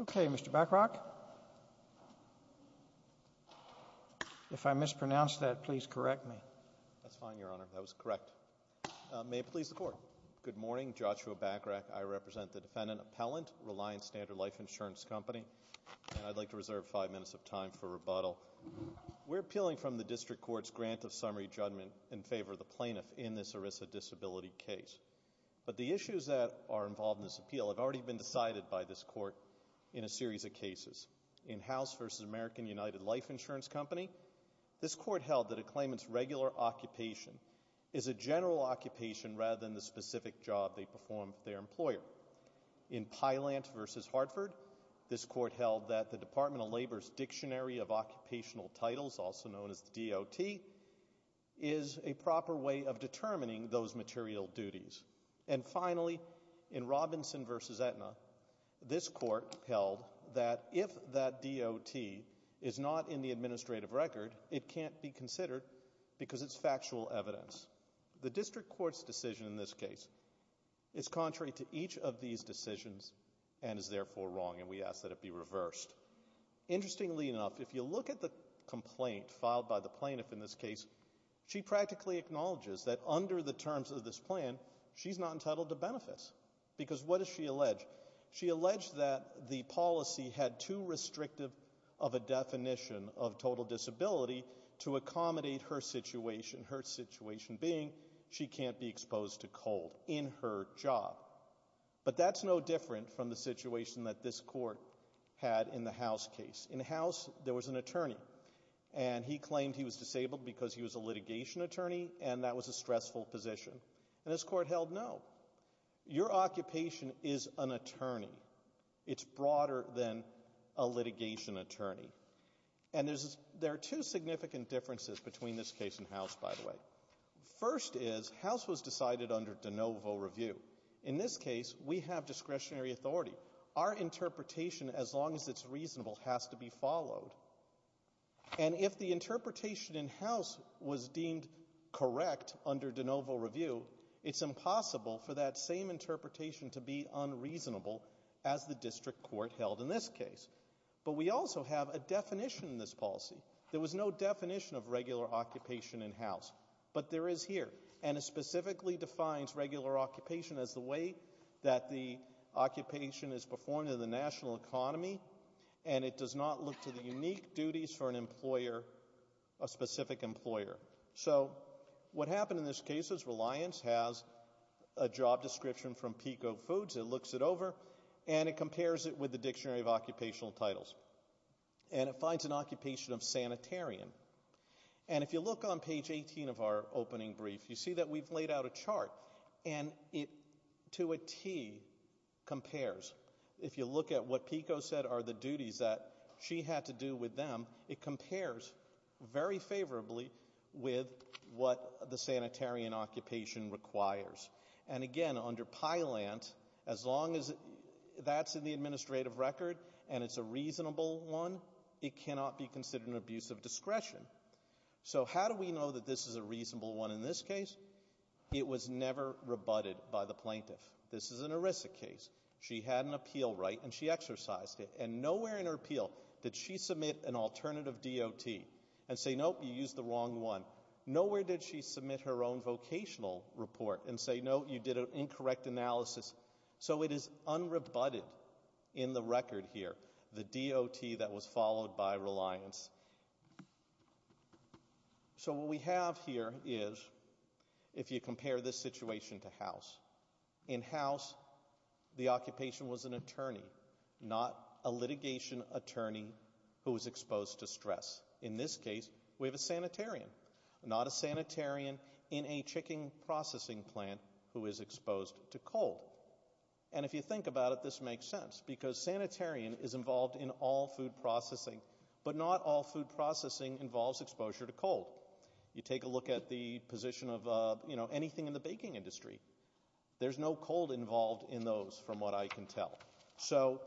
Okay, Mr. Backrock. If I mispronounced that, please correct me. That's fine, Your Honor. That was correct. May it please the Court. Good morning. Joshua Backrock. I represent the Defendant Appellant, Reliance Standard Life Insurance Company, and I'd like to reserve five minutes of time for rebuttal. We're appealing from the District Court's grant of summary judgment in favor of the by this Court in a series of cases. In House v. American United Life Insurance Company, this Court held that a claimant's regular occupation is a general occupation rather than the specific job they perform for their employer. In Pylant v. Hartford, this Court held that the Department of Labor's Dictionary of Occupational Titles, also known as the DOT, is a proper way of determining those material duties. And finally, in Robinson v. Aetna, this Court held that if that DOT is not in the administrative record, it can't be considered because it's factual evidence. The District Court's decision in this case is contrary to each of these decisions and is therefore wrong, and we ask that it be reversed. Interestingly enough, if you look at the complaint filed by the plaintiff in this case, she practically acknowledges that under the terms of this plan, she's not entitled to benefits. Because what does she allege? She alleged that the policy had too restrictive of a definition of total disability to accommodate her situation, her situation being she can't be exposed to cold in her job. But that's no different from the situation that this Court had in the House case. In the House, there was an attorney, and he claimed he was disabled because he was a litigation attorney, and that was a stressful position. And this Court held, no. Your occupation is an attorney. It's broader than a litigation attorney. And there are two significant differences between this case and House, by the way. First is, House was decided under de novo review. In this case, we have discretionary authority. Our interpretation, as long as it's reasonable, has to be followed. And if the interpretation in House was deemed correct under de novo review, it's impossible for that same interpretation to be unreasonable as the District Court held in this case. But we also have a definition in this policy. There was no definition of regular occupation in House, but there is here. And it specifically defines regular occupation as the way that the occupation is performed in the national economy, and it does not look to the unique duties for an employer, a specific employer. So what happened in this case is Reliance has a job description from Pico Foods. It looks it over, and it compares it with the Dictionary of Occupational Titles. And it finds an occupation of sanitarian. And if you look on page 18 of our opening brief, you see that we've laid out a chart. And it, to a T, compares. If you look at what Pico said are the duties that she had to do with them, it compares very favorably with what the sanitarian occupation requires. And again, under PILANT, as long as that's in the administrative record and it's a reasonable one, it cannot be considered an abuse of discretion. So how do we know that this is a reasonable one in this case? It was never rebutted by the plaintiff. This is an ERISA case. She had an appeal right, and she exercised it. And nowhere in her appeal did she submit an alternative DOT and say, nope, you used the wrong one. Nowhere did she submit her own vocational report and say, no, you did an incorrect analysis. So it is unrebutted in the record here, the DOT that was followed by Reliance. So what we have here is, if you compare this situation to House, in House the occupation was an attorney, not a litigation attorney who was exposed to stress. In this case, we have a sanitarian. Not a sanitarian in a chicken processing plant who is exposed to cold. And if you think about it, this makes sense, because sanitarian is involved in all food processing, but not all food processing involves exposure to cold. You take a look at the position of anything in the baking industry. There's no cold involved in those, from what I can tell. So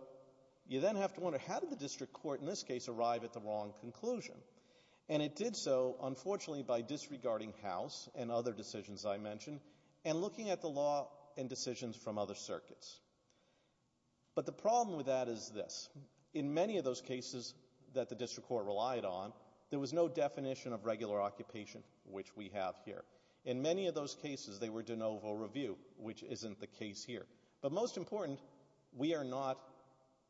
you then have to wonder, how did the district court in this case arrive at the wrong conclusion? And it did so, unfortunately, by disregarding House and other decisions I mentioned and looking at the law and decisions from other circuits. But the problem with that is this. In many of those cases that the district court relied on, there was no definition of regular occupation, which we have here. In many of those cases, they were de novo review, which isn't the case here. But most important, we are not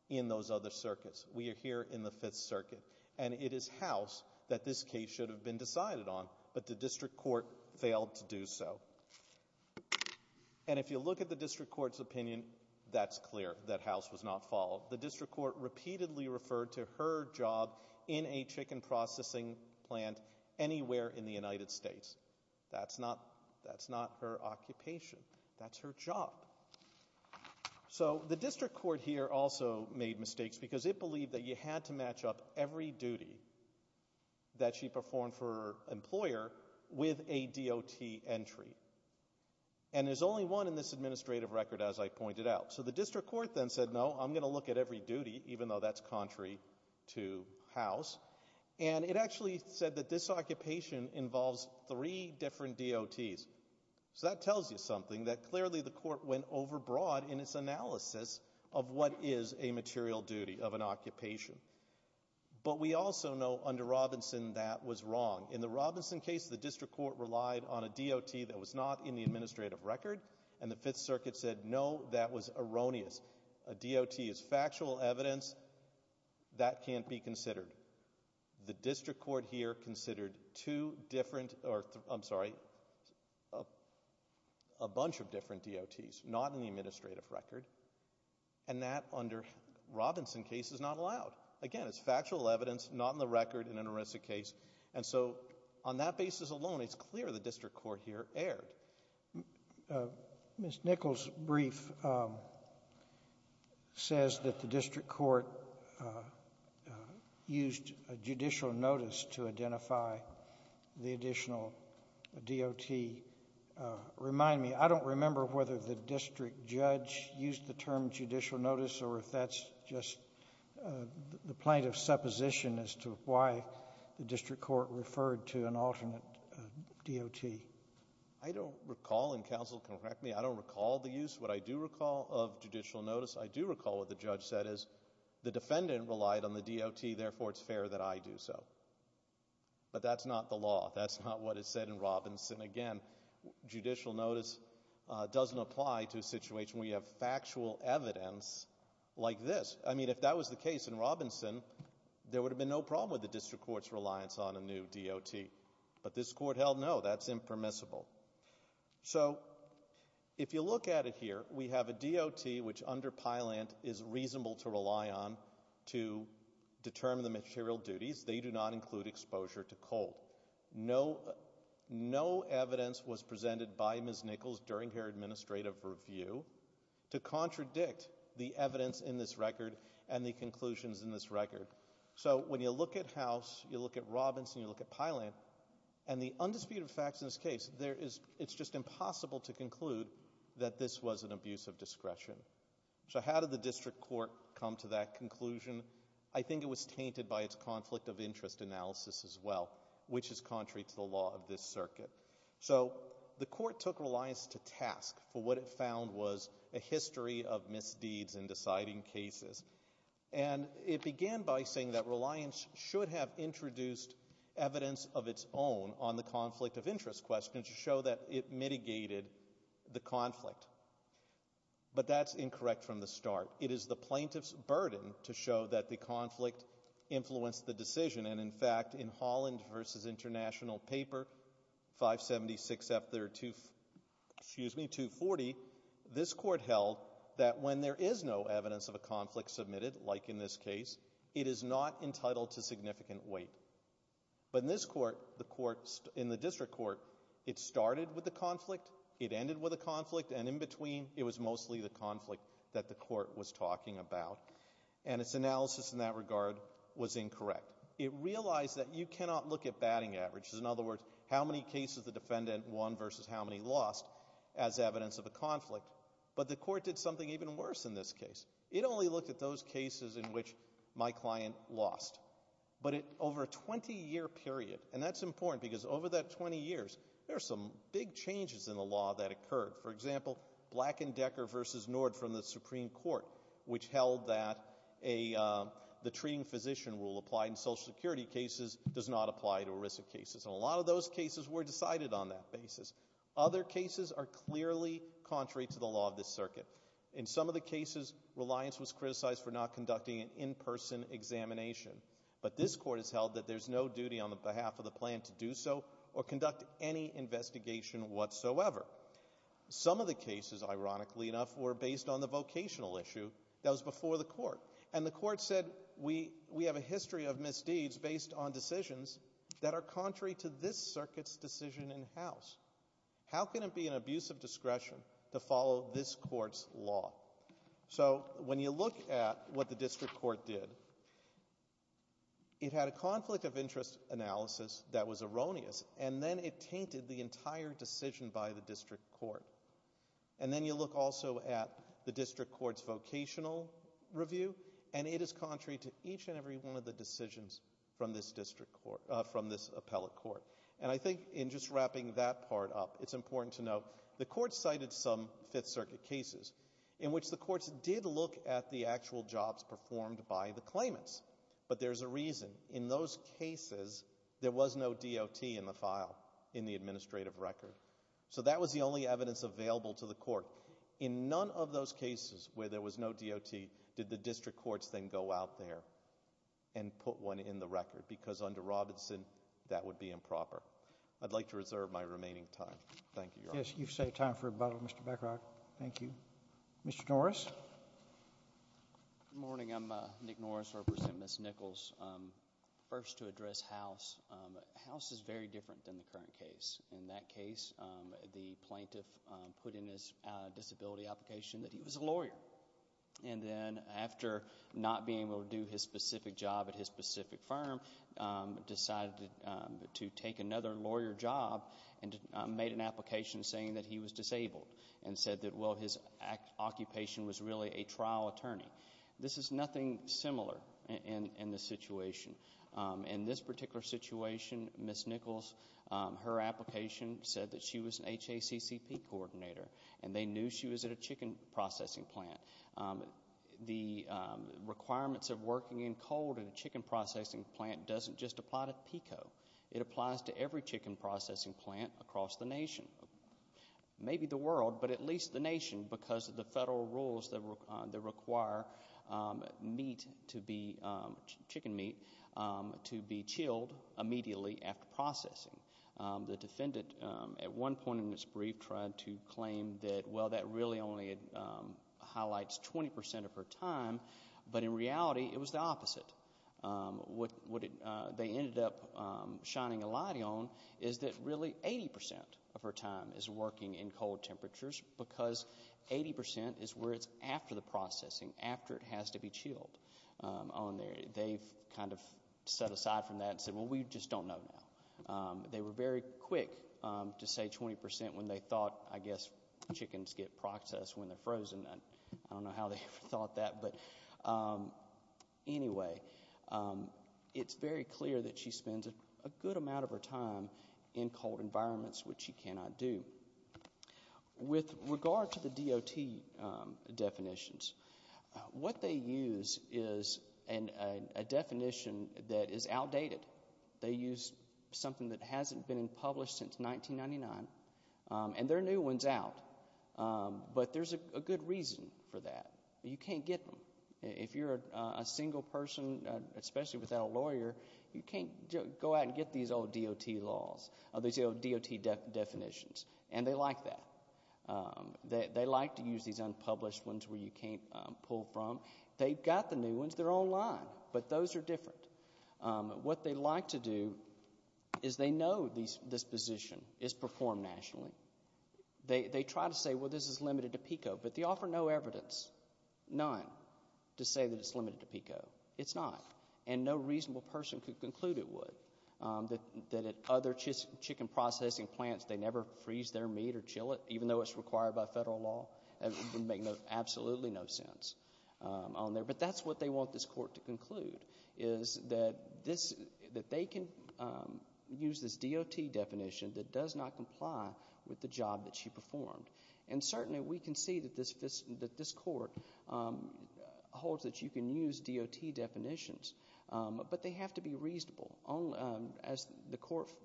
in those other circuits. We are here in the Fifth Circuit. And it is House that this case should have been decided on, but the district court failed to do so. And if you look at the district court's opinion, that's clear, that House was not followed. The district court repeatedly referred to her job in a chicken processing plant anywhere in the United States. That's not her occupation. That's her job. So the district court here also made mistakes because it believed that you had to match up every duty that she performed for her employer with a DOT entry. And there's only one in this administrative record, as I pointed out. So the district court then said, no, I'm going to look at every duty, even though that's contrary to House. And it actually said that this occupation involves three different DOTs. So that tells you something, that clearly the court went overbroad in its analysis of what is a material duty of an occupation. But we also know under Robinson that was wrong. In the Robinson case, the district court relied on a DOT that was not in the administrative record, and the Fifth Circuit said, no, that was erroneous. A DOT is factual evidence. That can't be considered. The district court here considered two different or, I'm sorry, a bunch of different DOTs not in the administrative record, and that under Robinson case is not allowed. Again, it's factual evidence, not in the record in an arrested case. And so on that basis alone, it's clear the district court here erred. Mr. Nichols' brief says that the district court used a judicial notice to identify the additional DOT. Remind me, I don't remember whether the district judge used the term judicial notice or if that's just the plaintiff's supposition as to why the district court referred to an alternate DOT. I don't recall, and counsel, correct me, I don't recall the use. What I do recall of judicial notice, I do recall what the judge said, is the defendant relied on the DOT, therefore it's fair that I do so. But that's not the law. That's not what is said in Robinson. Again, judicial notice doesn't apply to a situation where you have factual evidence like this. I mean, if that was the case in Robinson, there would have been no problem with the district court's reliance on a new DOT. But this court held no, that's impermissible. So if you look at it here, we have a DOT which under Pylant is reasonable to rely on to determine the material duties. They do not include exposure to cold. No evidence was presented by Ms. Nichols during her administrative review to contradict the evidence in this record and the conclusions in this record. So when you look at House, you look at Robinson, you look at Pylant, and the undisputed facts in this case, it's just impossible to conclude that this was an abuse of discretion. So how did the district court come to that conclusion? I think it was tainted by its conflict of interest analysis as well, which is contrary to the law of this circuit. So the court took reliance to task for what it found was a history of misdeeds in deciding cases. And it began by saying that reliance should have introduced evidence of its own on the conflict of interest question to show that it mitigated the conflict. But that's incorrect from the start. It is the plaintiff's burden to show that the conflict influenced the decision. And, in fact, in Holland v. International Paper 576-240, this court held that when there is no evidence of a conflict submitted, like in this case, it is not entitled to significant weight. But in this court, in the district court, it started with a conflict, it ended with a conflict, and in between it was mostly the conflict that the court was talking about. And its analysis in that regard was incorrect. It realized that you cannot look at batting averages, in other words, how many cases the defendant won versus how many lost, as evidence of a conflict. But the court did something even worse in this case. It only looked at those cases in which my client lost. But over a 20-year period, and that's important because over that 20 years, there are some big changes in the law that occurred. For example, Black and Decker v. Nord from the Supreme Court, which held that the treating physician rule applied in Social Security cases does not apply to ERISA cases. And a lot of those cases were decided on that basis. Other cases are clearly contrary to the law of this circuit. In some of the cases, Reliance was criticized for not conducting an in-person examination. But this court has held that there's no duty on the behalf of the plaintiff to do so or conduct any investigation whatsoever. Some of the cases, ironically enough, were based on the vocational issue that was before the court. And the court said we have a history of misdeeds based on decisions that are contrary to this circuit's decision in house. How can it be an abuse of discretion to follow this court's law? So when you look at what the district court did, it had a conflict of interest analysis that was erroneous, and then it tainted the entire decision by the district court. And then you look also at the district court's vocational review, and it is contrary to each and every one of the decisions from this district court, from this appellate court. And I think in just wrapping that part up, it's important to note the court cited some Fifth Circuit cases in which the courts did look at the actual jobs performed by the claimants. But there's a reason. In those cases, there was no DOT in the file in the administrative record. So that was the only evidence available to the court. In none of those cases where there was no DOT, did the district courts then go out there and put one in the record, because under Robinson, that would be improper. I'd like to reserve my remaining time. Thank you, Your Honor. Yes, you've saved time for rebuttal, Mr. Beckrock. Thank you. Mr. Norris. Good morning. I'm Nick Norris, representing Ms. Nichols. First, to address House. House is very different than the current case. In that case, the plaintiff put in his disability application that he was a lawyer. And then after not being able to do his specific job at his specific firm, decided to take another lawyer job and made an application saying that he was disabled and said that, well, his occupation was really a trial attorney. This is nothing similar in this situation. In this particular situation, Ms. Nichols, her application said that she was an HACCP coordinator and they knew she was at a chicken processing plant. The requirements of working in cold at a chicken processing plant doesn't just apply to PICO. It applies to every chicken processing plant across the nation. Maybe the world, but at least the nation, because of the federal rules that require meat to be, chicken meat, to be chilled immediately after processing. The defendant, at one point in his brief, tried to claim that, well, that really only highlights 20% of her time, but in reality it was the opposite. What they ended up shining a light on is that really 80% of her time is working in cold temperatures because 80% is where it's after the processing, after it has to be chilled. They've kind of set aside from that and said, well, we just don't know now. They were very quick to say 20% when they thought, I guess, chickens get processed when they're frozen. I don't know how they ever thought that, but anyway. It's very clear that she spends a good amount of her time in cold environments, which she cannot do. With regard to the DOT definitions, what they use is a definition that is outdated. They use something that hasn't been published since 1999, and there are new ones out, but there's a good reason for that. You can't get them. If you're a single person, especially without a lawyer, you can't go out and get these old DOT laws, these old DOT definitions, and they like that. They like to use these unpublished ones where you can't pull from. They've got the new ones. They're online, but those are different. What they like to do is they know this position is performed nationally. They try to say, well, this is limited to PICO, but they offer no evidence, none, to say that it's limited to PICO. It's not, and no reasonable person could conclude it would, that at other chicken processing plants they never freeze their meat or chill it, even though it's required by federal law. It would make absolutely no sense on there. But that's what they want this court to conclude is that they can use this DOT definition that does not comply with the job that she performed. And certainly we can see that this court holds that you can use DOT definitions, but they have to be reasonable. As the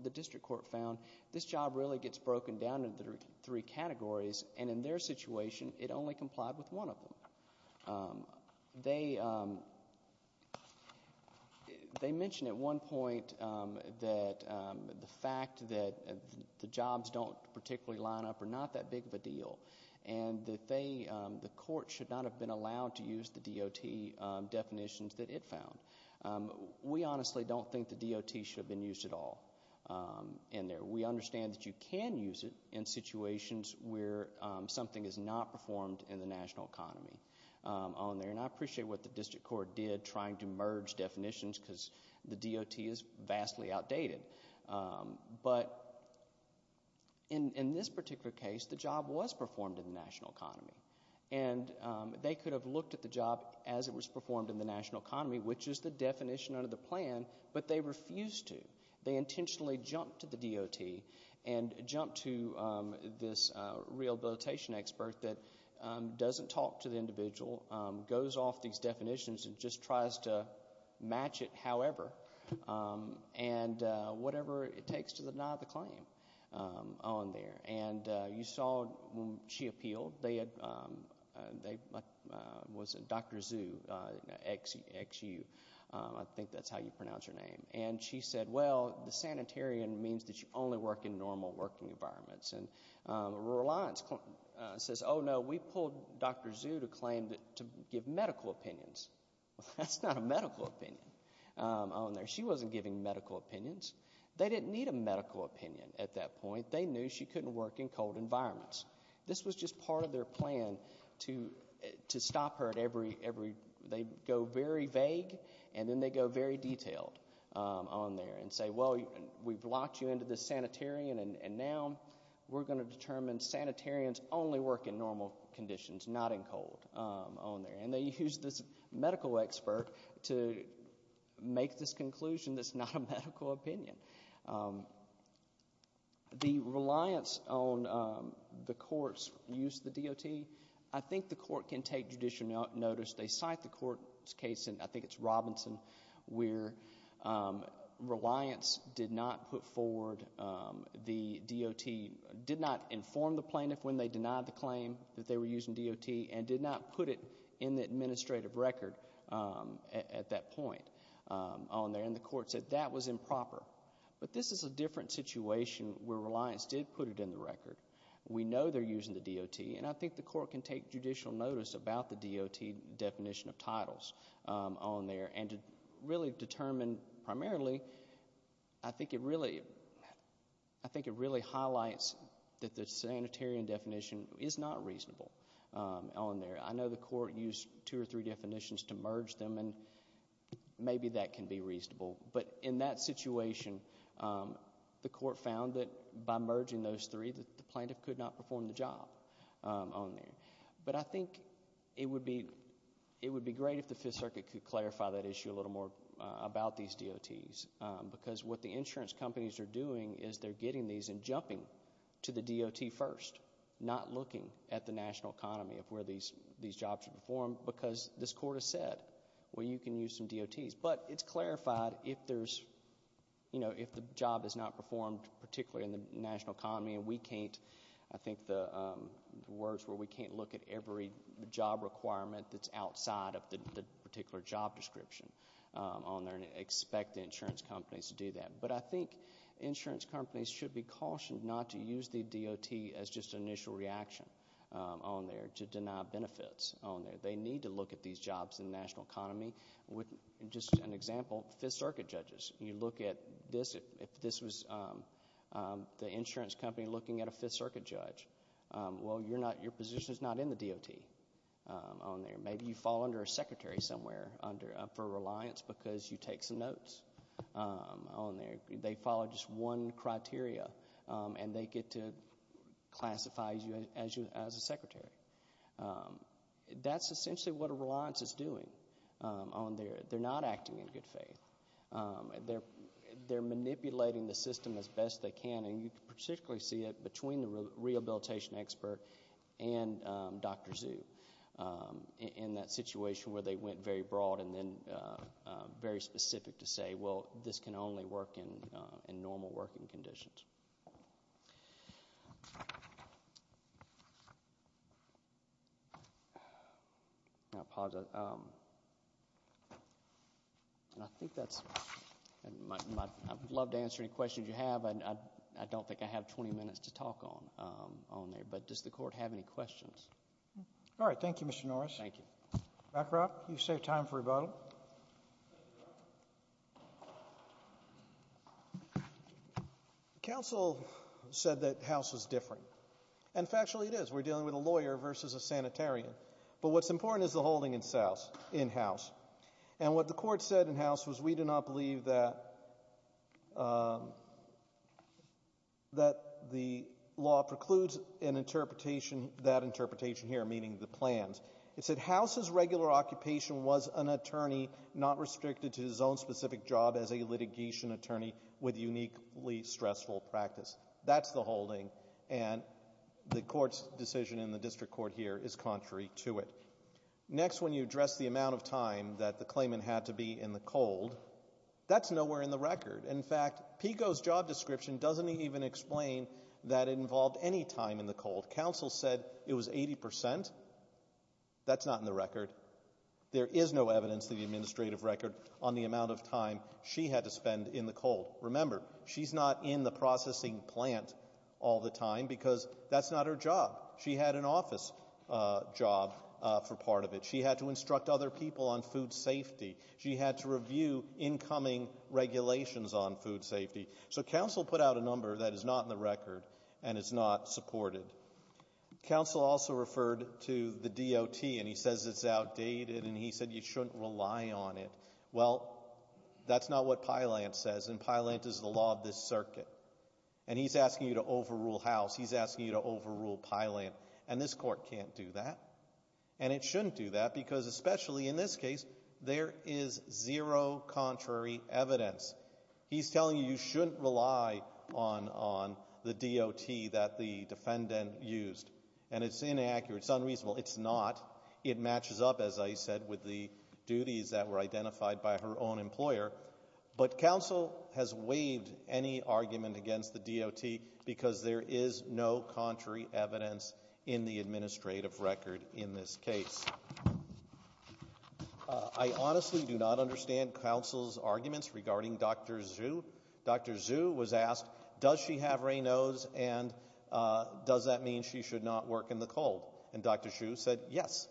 district court found, this job really gets broken down into three categories, and in their situation it only complied with one of them. They mentioned at one point that the fact that the jobs don't particularly line up are not that big of a deal, and that the court should not have been allowed to use the DOT definitions that it found. We honestly don't think the DOT should have been used at all in there. We understand that you can use it in situations where something is not performed in the national economy on there, and I appreciate what the district court did trying to merge definitions because the DOT is vastly outdated. But in this particular case, the job was performed in the national economy, and they could have looked at the job as it was performed in the national economy, which is the definition under the plan, but they refused to. They intentionally jumped to the DOT and jumped to this rehabilitation expert that doesn't talk to the individual, goes off these definitions, and just tries to match it however and whatever it takes to deny the claim on there. And you saw when she appealed, Dr. Xu, I think that's how you pronounce her name, and she said, well, the sanitarian means that you only work in normal working environments. And the Rural Alliance says, oh, no, we pulled Dr. Xu to claim to give medical opinions. That's not a medical opinion on there. She wasn't giving medical opinions. They didn't need a medical opinion at that point. They knew she couldn't work in cold environments. This was just part of their plan to stop her at every, they go very vague, and then they go very detailed on there and say, well, we've locked you into this sanitarian, and now we're going to determine sanitarians only work in normal conditions, not in cold, on there. And they used this medical expert to make this conclusion that's not a medical opinion. The reliance on the court's use of the DOT, I think the court can take judicial notice. They cite the court's case, and I think it's Robinson, where reliance did not put forward the DOT, did not inform the plaintiff when they denied the claim that they were using DOT and did not put it in the administrative record at that point on there, and the court said that was improper. But this is a different situation where reliance did put it in the record. We know they're using the DOT, and I think the court can take judicial notice about the DOT definition of titles on there. And to really determine primarily, I think it really highlights that the sanitarian definition is not reasonable on there. I know the court used two or three definitions to merge them, and maybe that can be reasonable. But in that situation, the court found that by merging those three, that the plaintiff could not perform the job on there. But I think it would be great if the Fifth Circuit could clarify that issue a little more about these DOTs, because what the insurance companies are doing is they're getting these and jumping to the DOT first, not looking at the national economy of where these jobs are performed, because this court has said, well, you can use some DOTs. But it's clarified if the job is not performed particularly in the national economy and we can't look at every job requirement that's outside of the particular job description on there and expect the insurance companies to do that. But I think insurance companies should be cautioned not to use the DOT as just an initial reaction on there, to deny benefits on there. They need to look at these jobs in the national economy. Just an example, Fifth Circuit judges, you look at this. If this was the insurance company looking at a Fifth Circuit judge, well, your position is not in the DOT on there. Maybe you fall under a secretary somewhere for reliance because you take some notes on there. They follow just one criteria, and they get to classify you as a secretary. That's essentially what a reliance is doing on there. They're not acting in good faith. They're manipulating the system as best they can, and you can particularly see it between the rehabilitation expert and Dr. Zhu in that situation where they went very broad and then very specific to say, well, this can only work in normal working conditions. I'll pause it. And I think that's my — I'd love to answer any questions you have. I don't think I have 20 minutes to talk on there. But does the Court have any questions? Roberts. All right. Thank you, Mr. Norris. Thank you. McGrath, you save time for rebuttal. The counsel said that House was different. And factually, it is. We're dealing with a lawyer versus a sanitarian. But what's important is the holding in House. And what the Court said in House was, we do not believe that the law precludes an interpretation, that interpretation here meaning the plans. It said House's regular occupation was an attorney not restricted to his own specific job as a litigation attorney with uniquely stressful practice. That's the holding. And the Court's decision in the district court here is contrary to it. Next, when you address the amount of time that the claimant had to be in the cold, that's nowhere in the record. In fact, PICO's job description doesn't even explain that it involved any time in the cold. Counsel said it was 80 percent. That's not in the record. There is no evidence in the administrative record on the amount of time she had to spend in the cold. Remember, she's not in the processing plant all the time because that's not her job. She had an office job for part of it. She had to instruct other people on food safety. She had to review incoming regulations on food safety. So counsel put out a number that is not in the record and is not supported. Counsel also referred to the DOT, and he says it's outdated, and he said you shouldn't rely on it. Well, that's not what Pylant says, and Pylant is the law of this circuit. And he's asking you to overrule House. He's asking you to overrule Pylant. And this Court can't do that. And it shouldn't do that because, especially in this case, there is zero contrary evidence. He's telling you you shouldn't rely on the DOT that the defendant used. And it's inaccurate. It's unreasonable. It's not. It matches up, as I said, with the duties that were identified by her own employer. But counsel has waived any argument against the DOT because there is no contrary evidence in the administrative record in this case. I honestly do not understand counsel's arguments regarding Dr. Xu. Dr. Xu was asked, does she have Raynaud's, and does that mean she should not work in the cold? And Dr. Xu said yes.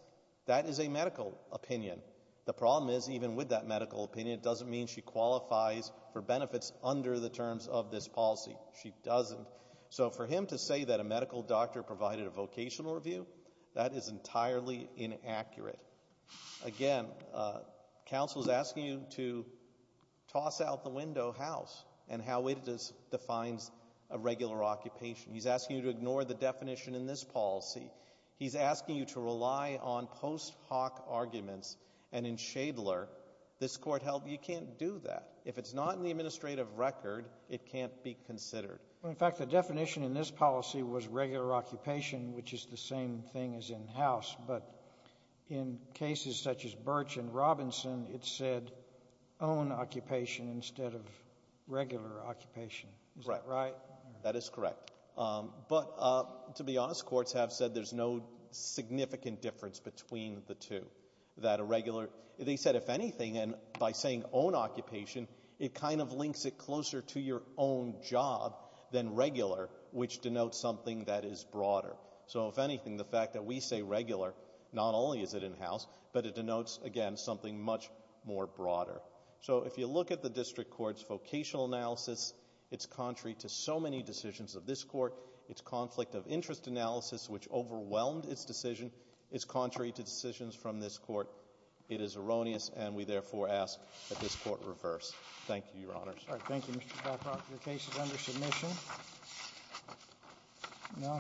That is a medical opinion. The problem is, even with that medical opinion, it doesn't mean she qualifies for benefits under the terms of this policy. She doesn't. So for him to say that a medical doctor provided a vocational review, that is entirely inaccurate. Again, counsel is asking you to toss out the window House and how it defines a regular occupation. He's asking you to ignore the definition in this policy. He's asking you to rely on post hoc arguments. And in Shadler, this Court held you can't do that. If it's not in the administrative record, it can't be considered. In fact, the definition in this policy was regular occupation, which is the same thing as in House. But in cases such as Birch and Robinson, it said own occupation instead of regular occupation. Is that right? That is correct. But to be honest, courts have said there's no significant difference between the two. They said if anything, and by saying own occupation, it kind of links it closer to your own job than regular, which denotes something that is broader. So if anything, the fact that we say regular, not only is it in House, but it denotes, again, something much more broader. So if you look at the district court's vocational analysis, it's contrary to so many decisions of this court. Its conflict of interest analysis, which overwhelmed its decision, is contrary to decisions from this court. It is erroneous, and we therefore ask that this court reverse. Thank you, Your Honors. Thank you, Mr. Blackrock. Your case is under submission.